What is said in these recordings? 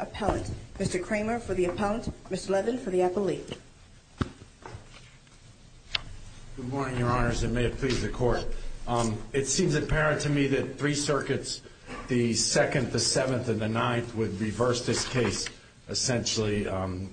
Appellant, Mr. Kramer for the Appellant, Ms. Levin for the Appellate. Good morning, Your Honors, and may it please the Court. It seems apparent to me that three circuits, the 2nd, the 7th, and the 9th, would reverse this case, essentially,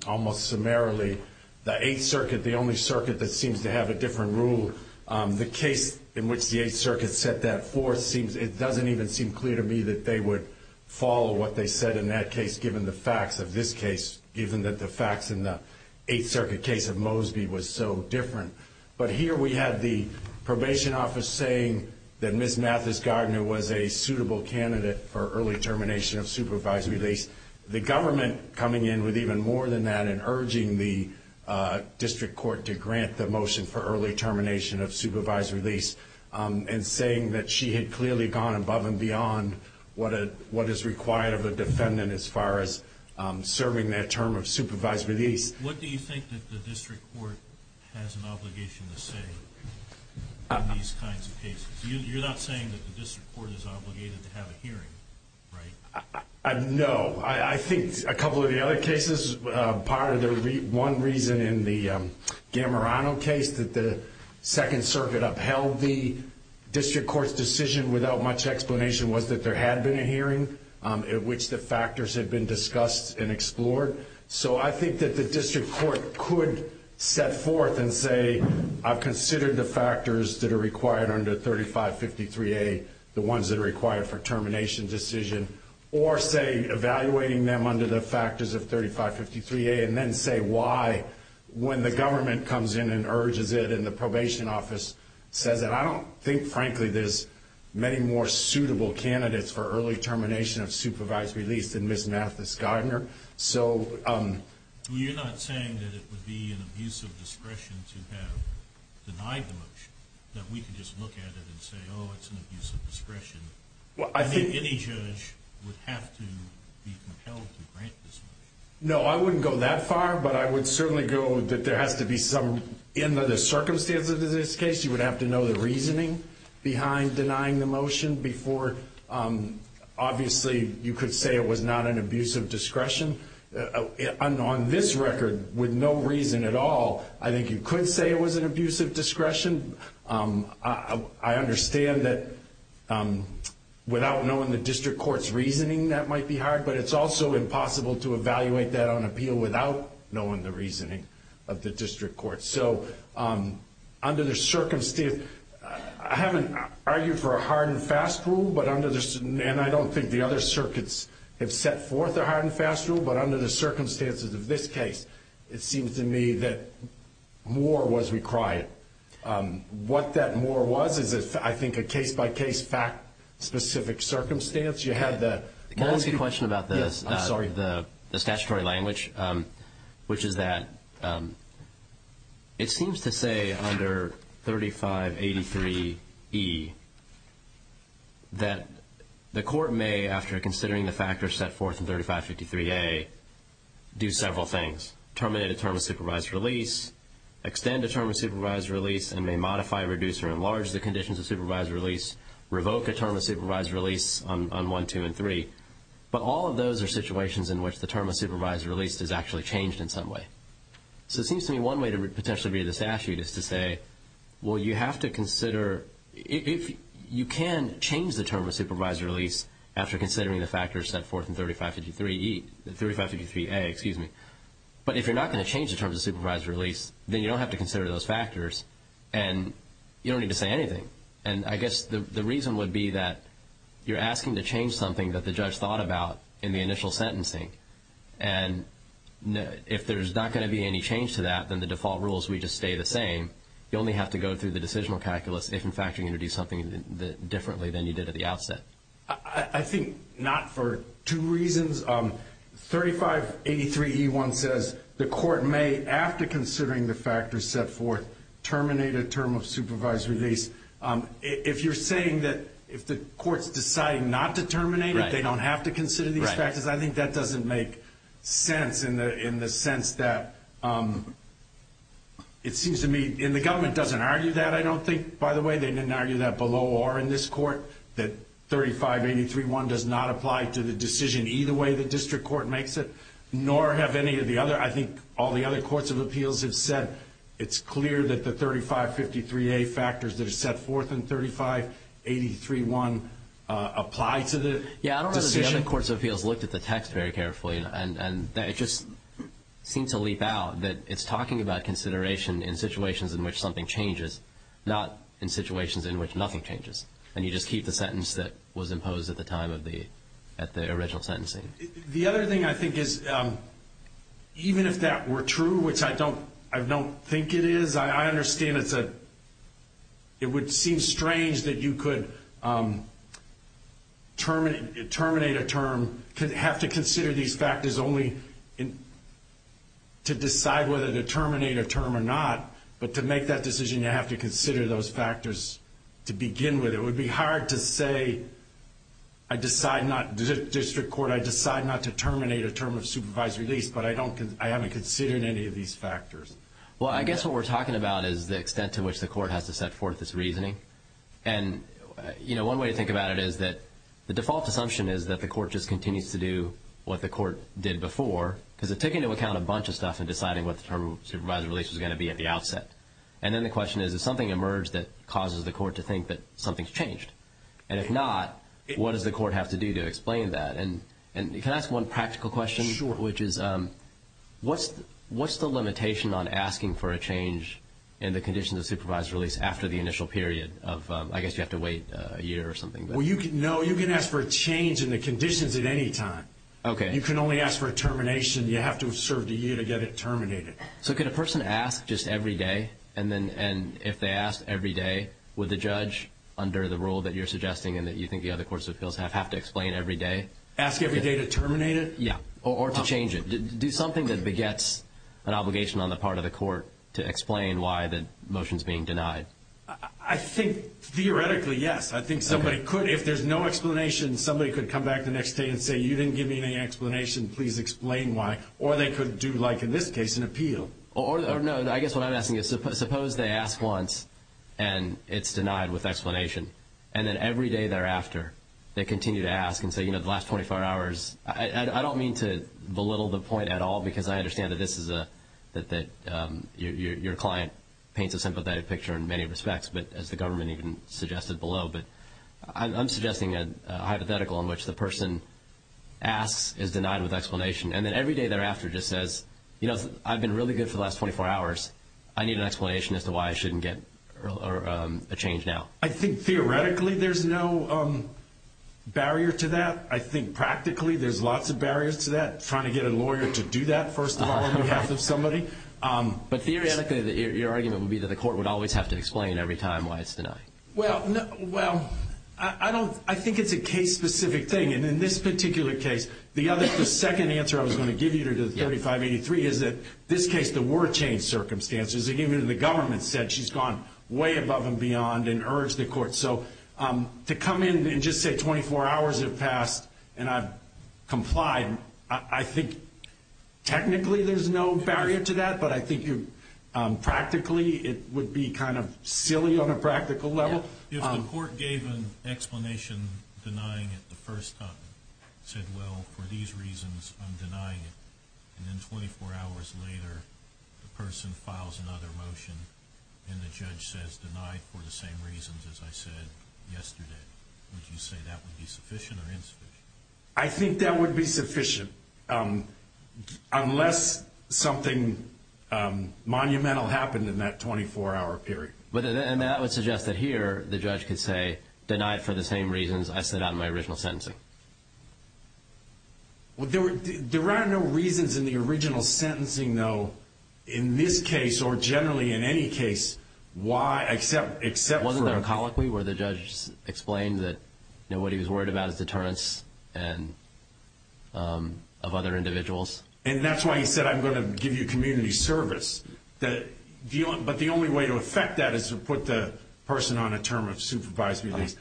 almost summarily. The 8th Circuit, the only circuit that seems to have a different rule, the case in which the 8th Circuit set that forth, it doesn't even seem clear to me that they would follow what they said in that case, given the facts of this case, given that the facts in the 8th Circuit case of Mosby was so different. But here we have the Probation Office saying that Ms. Mathis-Gardner was a suitable candidate for early termination of supervisory release. The government coming in with even more than that and urging the District Court to grant the motion for early termination of supervisory release, and saying that she had clearly gone above and beyond what is required of a defendant as far as serving that term of supervisory release. What do you think that the District Court has an obligation to say in these kinds of cases? You're not saying that the District Court is obligated to have a hearing, right? No. I think a couple of the other cases, part of the one reason in the Gammarano case that the 2nd Circuit upheld the District Court's decision without much explanation was that there had been a hearing in which the factors had been discussed and explored. So I think that the District Court could set forth and say, I've considered the factors that are required under 3553A, the ones that are required for termination decision, or say, evaluating them under the factors of 3553A and then say why, when the government comes in and urges it and the Probation Office says it. I don't think, frankly, there's many more suitable candidates for early termination of supervisory release than Ms. Mathis-Gardner. You're not saying that it would be an abuse of discretion to have denied the motion, that we could just look at it and say, oh, it's an abuse of discretion. I think any judge would have to be compelled to grant this motion. No, I wouldn't go that far, but I would certainly go that there has to be some, in the circumstances of this case, you would have to know the reasoning behind denying the motion before, obviously, you could say it was not an abuse of discretion. On this record, with no reason at all, I think you could say it was an abuse of discretion. I understand that without knowing the District Court's reasoning, that might be hard, but it's also impossible to evaluate that on appeal without knowing the reasoning of the District Court. So under the circumstances, I haven't argued for a hard and fast rule, and I don't think the other circuits have set forth a hard and fast rule, but under the circumstances of this case, it seems to me that more was required. What that more was is, I think, a case-by-case, fact-specific circumstance. You had the motion. I have a question about the statutory language, which is that it seems to say under 3583E that the court may, after considering the factors set forth in 3553A, do several things. Terminate a term of supervised release, extend a term of supervised release, and may modify, reduce, or enlarge the conditions of supervised release, revoke a term of supervised release on 1, 2, and 3. But all of those are situations in which the term of supervised release is actually changed in some way. So it seems to me one way to potentially read this statute is to say, well, you have to consider, you can change the term of supervised release after considering the factors set forth in 3553A, but if you're not going to change the terms of supervised release, then you don't have to consider those factors, and you don't need to say anything. And I guess the reason would be that you're asking to change something that the judge thought about in the initial sentencing. And if there's not going to be any change to that, then the default rule is we just stay the same. You only have to go through the decisional calculus if, in fact, you're going to do something differently than you did at the outset. I think not for two reasons. 3583E1 says the court may, after considering the factors set forth, terminate a term of supervised release. If you're saying that if the court's deciding not to terminate it, they don't have to consider these factors, I think that doesn't make sense in the sense that it seems to me, and the government doesn't argue that, I don't think, by the way, they didn't argue that below or in this court, that 3583E1 does not apply to the decision either way the district court makes it, nor have any of the other. I think all the other courts of appeals have said it's clear that the 3553A factors that are set forth in 3583E1 apply to the decision. The other courts of appeals looked at the text very carefully, and it just seemed to leap out that it's talking about consideration in situations in which something changes, not in situations in which nothing changes, and you just keep the sentence that was imposed at the time of the original sentencing. The other thing I think is, even if that were true, which I don't think it is, I understand it would seem strange that you could terminate a term, have to consider these factors only to decide whether to terminate a term or not, but to make that decision, you have to consider those factors to begin with. It would be hard to say, district court, I decide not to terminate a term of supervised release, but I haven't considered any of these factors. Well, I guess what we're talking about is the extent to which the court has to set forth its reasoning. And one way to think about it is that the default assumption is that the court just continues to do what the court did before, because it took into account a bunch of stuff in deciding what the term of supervised release was going to be at the outset. And then the question is, is something emerged that causes the court to think that something's changed? And if not, what does the court have to do to explain that? And can I ask one practical question? Sure. Which is, what's the limitation on asking for a change in the conditions of supervised release after the initial period of, I guess you have to wait a year or something? Well, no, you can ask for a change in the conditions at any time. Okay. You can only ask for a termination. You have to have served a year to get it terminated. So could a person ask just every day, and if they ask every day, would the judge, under the rule that you're suggesting and that you think the other courts of appeals have, have to explain every day? Ask every day to terminate it? Yeah, or to change it. Do something that begets an obligation on the part of the court to explain why the motion's being denied. I think theoretically, yes. I think somebody could. If there's no explanation, somebody could come back the next day and say, you didn't give me any explanation, please explain why. Or they could do, like in this case, an appeal. Or, no, I guess what I'm asking is, suppose they ask once and it's denied with explanation, and then every day thereafter they continue to ask and say, you know, the last 24 hours. I don't mean to belittle the point at all because I understand that this is a, that your client paints a sympathetic picture in many respects, but as the government even suggested below, but I'm suggesting a hypothetical in which the person asks, is denied with explanation, and then every day thereafter just says, you know, I've been really good for the last 24 hours. I need an explanation as to why I shouldn't get a change now. I think theoretically there's no barrier to that. I think practically there's lots of barriers to that, trying to get a lawyer to do that, first of all, on behalf of somebody. But theoretically, your argument would be that the court would always have to explain every time why it's denied. Well, I don't, I think it's a case-specific thing, and in this particular case, the second answer I was going to give you to 3583 is that this case, the word changed circumstances. Even the government said she's gone way above and beyond and urged the court. So to come in and just say 24 hours have passed and I've complied, I think technically there's no barrier to that, but I think practically it would be kind of silly on a practical level. If the court gave an explanation denying it the first time, said, well, for these reasons I'm denying it, and then 24 hours later the person files another motion and the judge says denied for the same reasons as I said, yesterday, would you say that would be sufficient or insufficient? I think that would be sufficient unless something monumental happened in that 24-hour period. And that would suggest that here the judge could say denied for the same reasons I said on my original sentencing. Well, there are no reasons in the original sentencing, though, in this case or generally in any case, except for a colloquy where the judge explained that what he was worried about is deterrence of other individuals. And that's why he said I'm going to give you community service. But the only way to effect that is to put the person on a term of supervised release.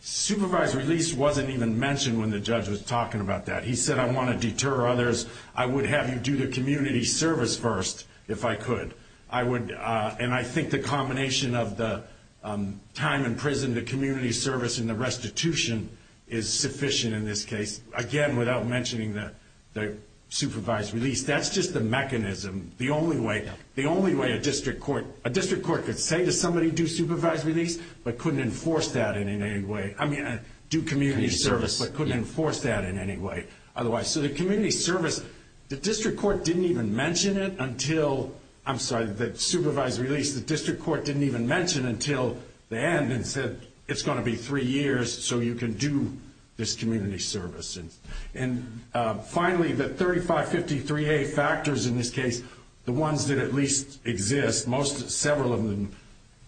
Supervised release wasn't even mentioned when the judge was talking about that. He said I want to deter others. I would have you do the community service first if I could. And I think the combination of the time in prison, the community service, and the restitution is sufficient in this case. Again, without mentioning the supervised release, that's just the mechanism. The only way a district court could say to somebody, do supervised release, but couldn't enforce that in any way. I mean, do community service, but couldn't enforce that in any way otherwise. So the community service, the district court didn't even mention it until, I'm sorry, the supervised release. The district court didn't even mention it until the end and said it's going to be three years so you can do this community service. And finally, the 3553A factors in this case, the ones that at least exist, several of them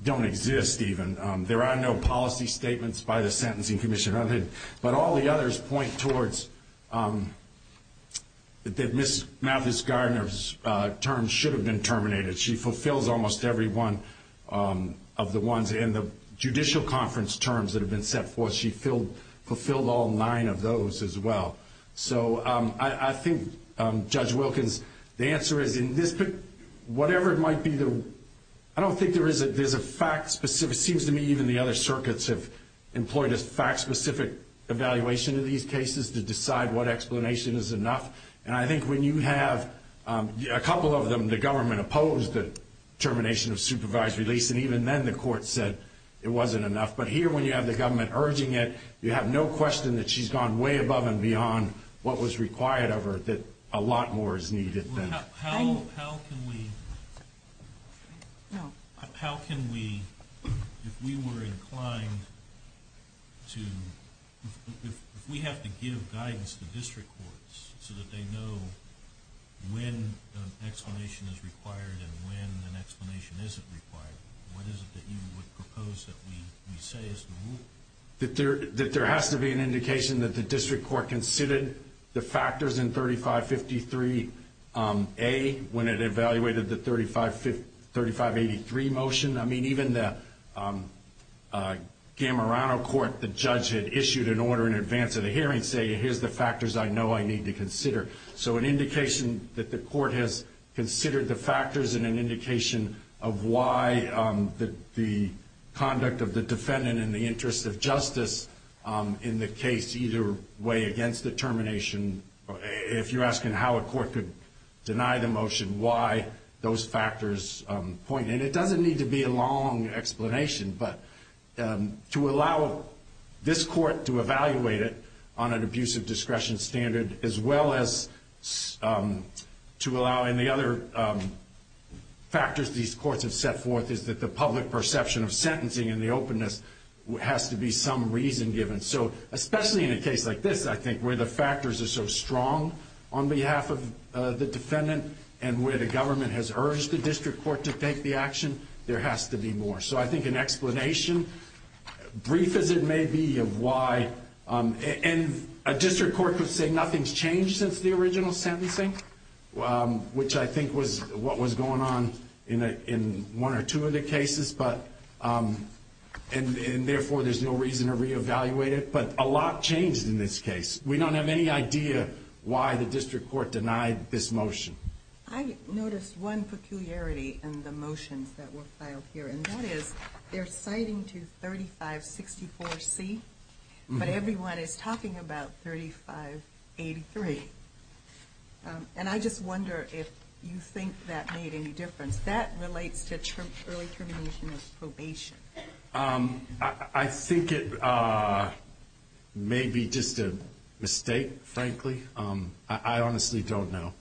don't exist even. There are no policy statements by the Sentencing Commission. But all the others point towards that Ms. Mavis Gardner's terms should have been terminated. She fulfills almost every one of the ones in the judicial conference terms that have been set forth. She fulfilled all nine of those as well. So I think, Judge Wilkins, the answer is in this, whatever it might be, I don't think there is a fact-specific, it seems to me even the other circuits have employed a fact-specific evaluation in these cases to decide what explanation is enough. And I think when you have a couple of them, the government opposed the termination of supervised release, and even then the court said it wasn't enough. But here when you have the government urging it, you have no question that she's gone way above and beyond what was required of her, that a lot more is needed than that. How can we, if we were inclined to, if we have to give guidance to district courts so that they know when an explanation is required and when an explanation isn't required, what is it that you would propose that we say is normal? That there has to be an indication that the district court considered the factors in 3553A when it evaluated the 3583 motion. I mean, even the Gamarano court, the judge had issued an order in advance of the hearing saying here's the factors I know I need to consider. So an indication that the court has considered the factors and an indication of why the conduct of the defendant in the interest of justice in the case, either way against the termination, if you're asking how a court could deny the motion, why those factors point. And it doesn't need to be a long explanation, but to allow this court to evaluate it on an abusive discretion standard as well as to allow any other factors these courts have set forth is that the public perception of sentencing and the openness has to be some reason given. So especially in a case like this, I think, where the factors are so strong on behalf of the defendant and where the government has urged the district court to take the action, there has to be more. So I think an explanation, brief as it may be, of why. And a district court could say nothing's changed since the original sentencing, which I think was what was going on in one or two of the cases. And therefore there's no reason to reevaluate it, but a lot changed in this case. We don't have any idea why the district court denied this motion. I noticed one peculiarity in the motions that were filed here, and that is they're citing to 3564C, but everyone is talking about 3583. And I just wonder if you think that made any difference. That relates to early termination of probation. I think it may be just a mistake, frankly. I honestly don't know.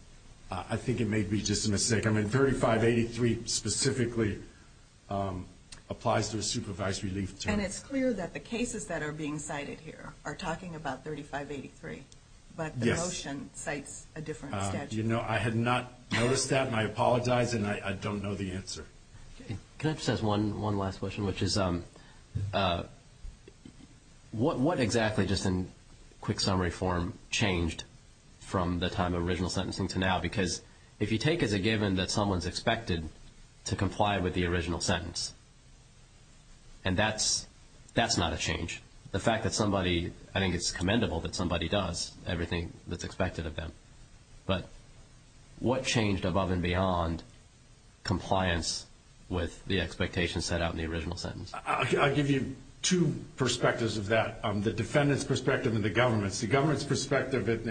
I think it may be just a mistake. I mean, 3583 specifically applies to a supervised relief term. And it's clear that the cases that are being cited here are talking about 3583, but the motion cites a different statute. I had not noticed that, and I apologize, and I don't know the answer. Can I just ask one last question, which is what exactly, just in quick summary form, changed from the time of original sentencing to now? Because if you take as a given that someone's expected to comply with the original sentence, and that's not a change. The fact that somebody, I think it's commendable that somebody does everything that's expected of them. But what changed above and beyond compliance with the expectations set out in the original sentence? I'll give you two perspectives of that. The defendant's perspective and the government's. The government's perspective in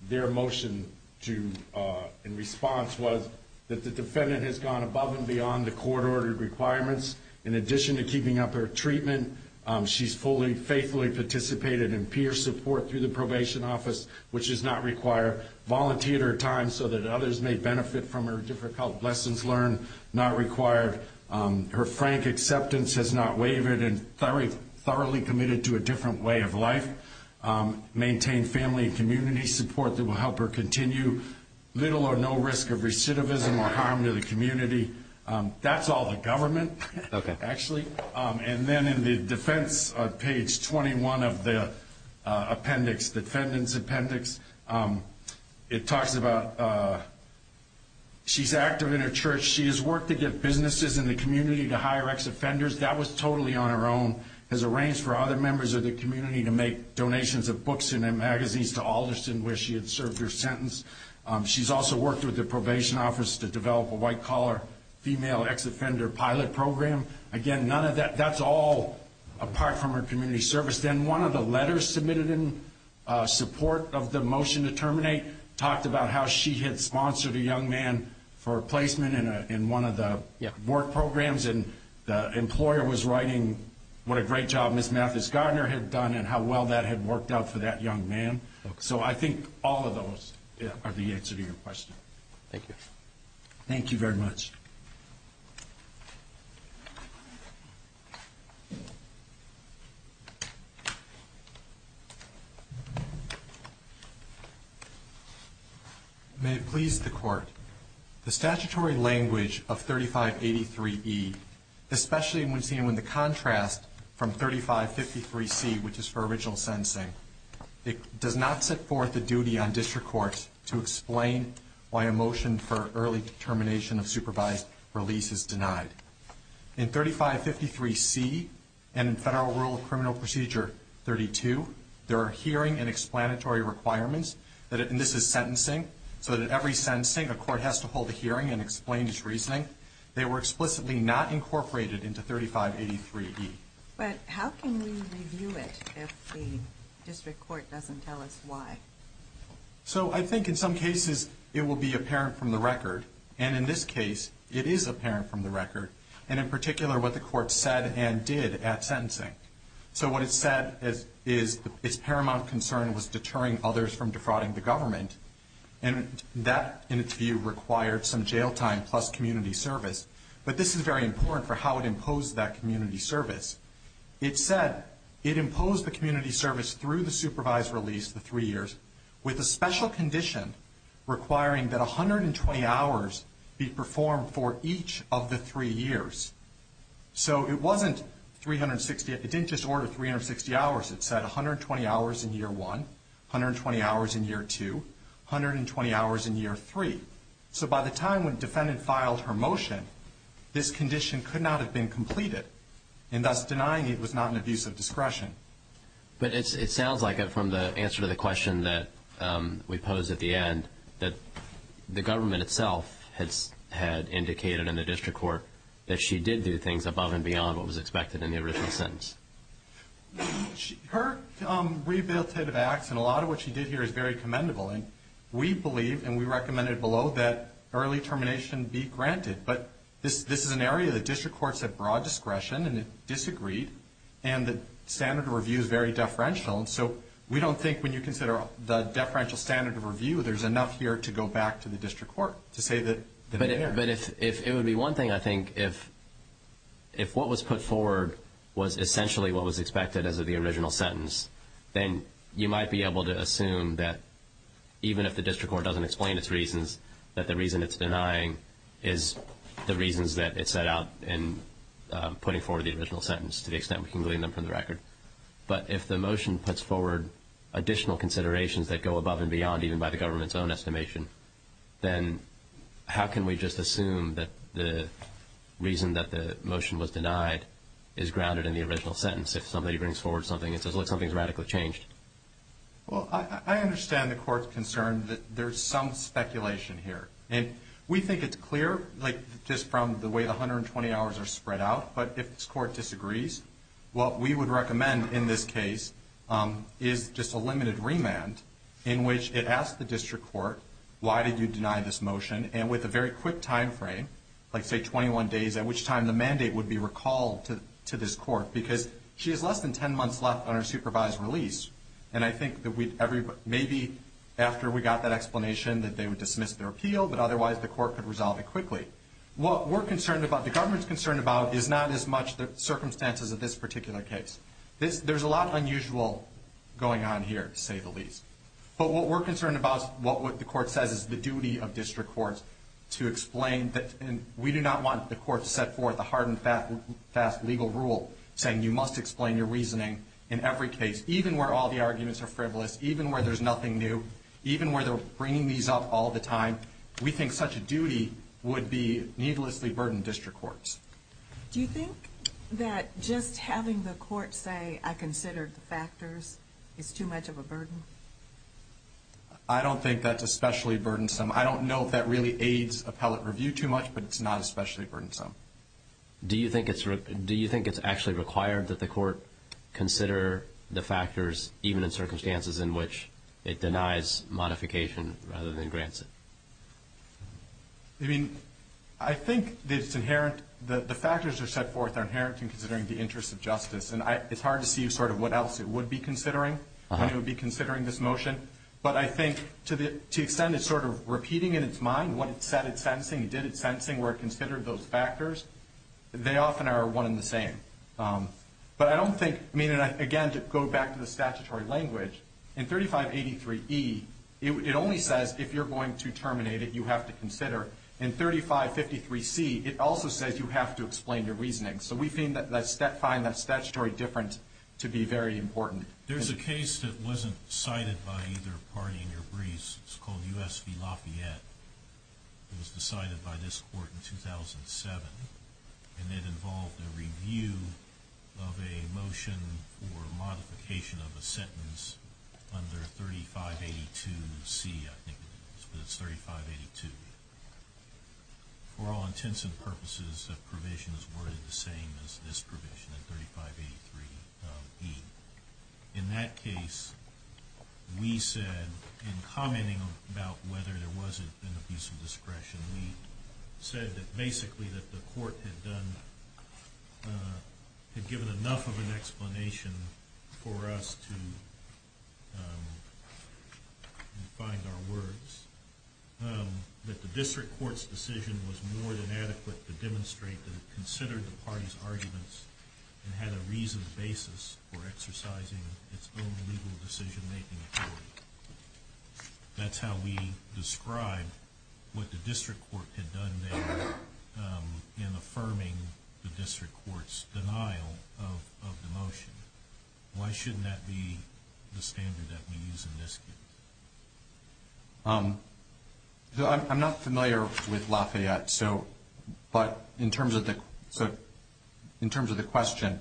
their motion in response was that the defendant has gone above and beyond the court-ordered requirements. In addition to keeping up her treatment, she's fully faithfully participated in peer support through the probation office, which does not require volunteer time so that others may benefit from her difficult lessons learned. Her frank acceptance has not wavered and thoroughly committed to a different way of life. Maintained family and community support that will help her continue. Little or no risk of recidivism or harm to the community. That's all the government, actually. And then in the defense, page 21 of the appendix, defendant's appendix, it talks about she's active in her church. She has worked to get businesses in the community to hire ex-offenders. That was totally on her own, has arranged for other members of the community to make donations of books and magazines to Alderson where she had served her sentence. She's also worked with the probation office to develop a white-collar female ex-offender pilot program. Again, none of that, that's all apart from her community service. Then one of the letters submitted in support of the motion to terminate talked about how she had sponsored a young man for placement in one of the work programs. And the employer was writing what a great job Ms. Mathis Gardner had done and how well that had worked out for that young man. So I think all of those are the answer to your question. Thank you. May it please the Court. The statutory language of 3583E, especially when seen with the contrast from 3553C, which is for original sentencing, does not set forth the duty on district courts to explain why a motion for early termination of supervised release is denied. In 3553C and Federal Rule of Criminal Procedure 32, there are hearing and explanatory requirements, and this is sentencing, so that every sentencing a court has to hold a hearing and explain its reasoning. They were explicitly not incorporated into 3583E. But how can we review it if the district court doesn't tell us why? So I think in some cases it will be apparent from the record, and in this case it is apparent from the record, and in particular what the court said and did at sentencing. So what it said is its paramount concern was deterring others from defrauding the government, and that, in its view, required some jail time plus community service. But this is very important for how it imposed that community service. It said it imposed the community service through the supervised release, the three years, with a special condition requiring that 120 hours be performed for each of the three years. So it wasn't 360 — it didn't just order 360 hours. It said 120 hours in year one, 120 hours in year two, 120 hours in year three. So by the time when the defendant filed her motion, this condition could not have been completed, and thus denying it was not an abuse of discretion. But it sounds like from the answer to the question that we pose at the end, that the government itself had indicated in the district court that she did do things above and beyond what was expected in the original sentence. Her rehabilitative acts and a lot of what she did here is very commendable. And we believe, and we recommended below, that early termination be granted. But this is an area that district courts have broad discretion, and it disagreed, and the standard of review is very deferential. And so we don't think when you consider the deferential standard of review, there's enough here to go back to the district court to say that they're there. But if it would be one thing, I think, if what was put forward was essentially what was expected as of the original sentence, then you might be able to assume that even if the district court doesn't explain its reasons, that the reason it's denying is the reasons that it set out in putting forward the original sentence to the extent we can glean them from the record. But if the motion puts forward additional considerations that go above and beyond even by the government's own estimation, then how can we just assume that the reason that the motion was denied is grounded in the original sentence? If somebody brings forward something and says, look, something's radically changed? Well, I understand the court's concern that there's some speculation here. And we think it's clear, like, just from the way the 120 hours are spread out. But if this court disagrees, what we would recommend in this case is just a limited remand in which it asks the district court, why did you deny this motion, and with a very quick timeframe, like, say, 21 days, at which time the mandate would be recalled to this court, because she has less than 10 months left on her supervised release. And I think that maybe after we got that explanation that they would dismiss their appeal, but otherwise the court could resolve it quickly. What we're concerned about, the government's concerned about, is not as much the circumstances of this particular case. There's a lot unusual going on here, to say the least. But what we're concerned about is what the court says is the duty of district courts to explain. And we do not want the court to set forth a hard and fast legal rule saying you must explain your reasoning in every case, even where all the arguments are frivolous, even where there's nothing new, even where they're bringing these up all the time. We think such a duty would be needlessly burden district courts. Do you think that just having the court say, I considered the factors, is too much of a burden? I don't think that's especially burdensome. I don't know if that really aids appellate review too much, but it's not especially burdensome. Do you think it's actually required that the court consider the factors, even in circumstances in which it denies modification rather than grants it? I think the factors that are set forth are inherent in considering the interests of justice. And it's hard to see what else it would be considering when it would be considering this motion. But I think to the extent it's sort of repeating in its mind what it said it's sensing, did it's sensing, where it considered those factors, they often are one and the same. Again, to go back to the statutory language, in 3583E, it only says if you're going to terminate it, you have to consider. In 3553C, it also says you have to explain your reasoning. So we find that statutory difference to be very important. There's a case that wasn't cited by either party in your briefs. It's called U.S. v. Lafayette. It was decided by this court in 2007. And it involved a review of a motion for modification of a sentence under 3582C, I think it was. But it's 3582. For all intents and purposes, the provisions were the same as this provision in 3583E. In that case, we said in commenting about whether there was an abuse of discretion, we said that basically that the court had given enough of an explanation for us to find our words, that the district court's decision was more than adequate to demonstrate that it considered the party's arguments and had a reasoned basis for exercising its own legal decision-making authority. That's how we describe what the district court had done there in affirming the district court's denial of the motion. Why shouldn't that be the standard that we use in this case? I'm not familiar with Lafayette. But in terms of the question,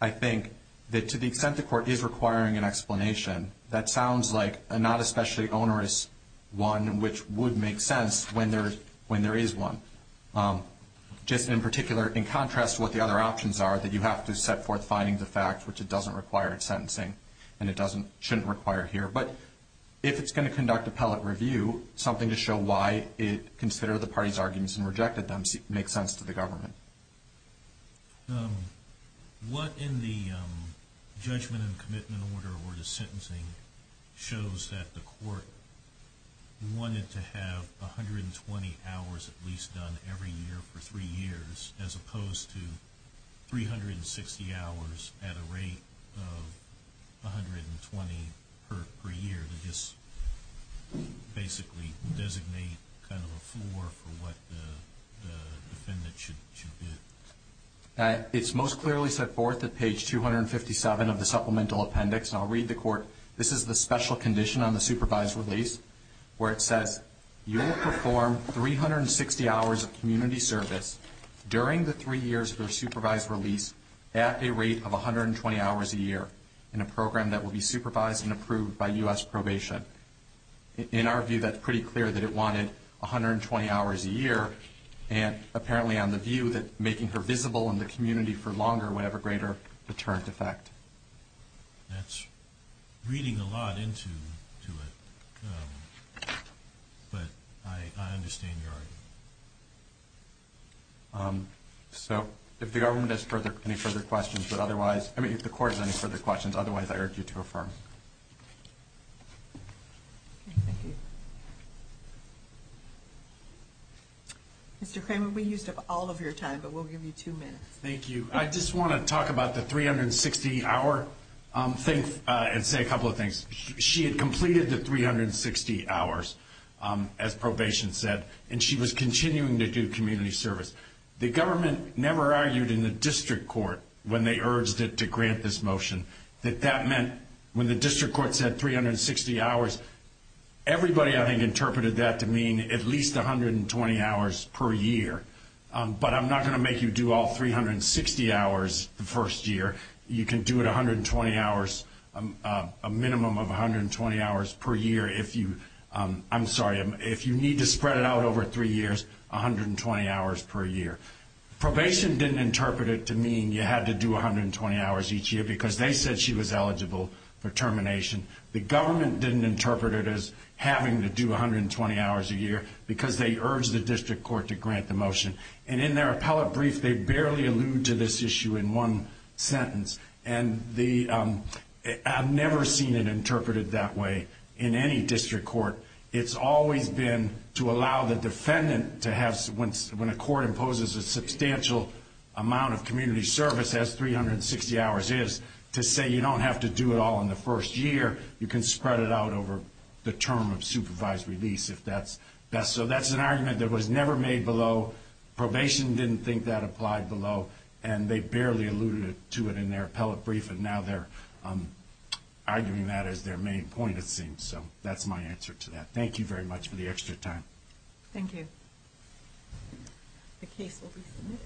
I think that to the extent the court is requiring an explanation, that sounds like a not especially onerous one, which would make sense when there is one. Just in particular, in contrast to what the other options are, that you have to set forth findings of fact, which it doesn't require in sentencing, and it shouldn't require here. But if it's going to conduct appellate review, something to show why it considered the party's arguments and rejected them makes sense to the government. What in the judgment and commitment order or the sentencing shows that the court wanted to have 120 hours at least done every year for three years as opposed to 360 hours at a rate of 120 per year to just basically designate kind of a floor for what the defendant should do? It's most clearly set forth at page 257 of the supplemental appendix. I'll read the court. This is the special condition on the supervised release where it says, you will perform 360 hours of community service during the three years of your supervised release at a rate of 120 hours a year in a program that will be supervised and approved by U.S. probation. In our view, that's pretty clear that it wanted 120 hours a year, and apparently on the view that making her visible in the community for longer would have a greater deterrent effect. That's reading a lot into it, but I understand your argument. If the court has any further questions, otherwise I urge you to affirm. Mr. Kramer, we used up all of your time, but we'll give you two minutes. Thank you. I just want to talk about the 360-hour and say a couple of things. She had completed the 360 hours, as probation said, and she was continuing to do community service. The government never argued in the district court when they urged it to grant this motion that that meant, when the district court said 360 hours, everybody, I think, interpreted that to mean at least 120 hours per year. But I'm not going to make you do all 360 hours the first year. You can do it 120 hours, a minimum of 120 hours per year if you need to spread it out over three years, 120 hours per year. Probation didn't interpret it to mean you had to do 120 hours each year because they said she was eligible for termination. The government didn't interpret it as having to do 120 hours a year because they urged the district court to grant the motion. And in their appellate brief, they barely allude to this issue in one sentence. And I've never seen it interpreted that way in any district court. It's always been to allow the defendant to have, when a court imposes a substantial amount of community service, as 360 hours is, to say you don't have to do it all in the first year. You can spread it out over the term of supervised release if that's best. So that's an argument that was never made below. Probation didn't think that applied below. And they barely alluded to it in their appellate brief. And now they're arguing that as their main point, it seems. So that's my answer to that. Thank you very much for the extra time. Thank you. The case will be submitted.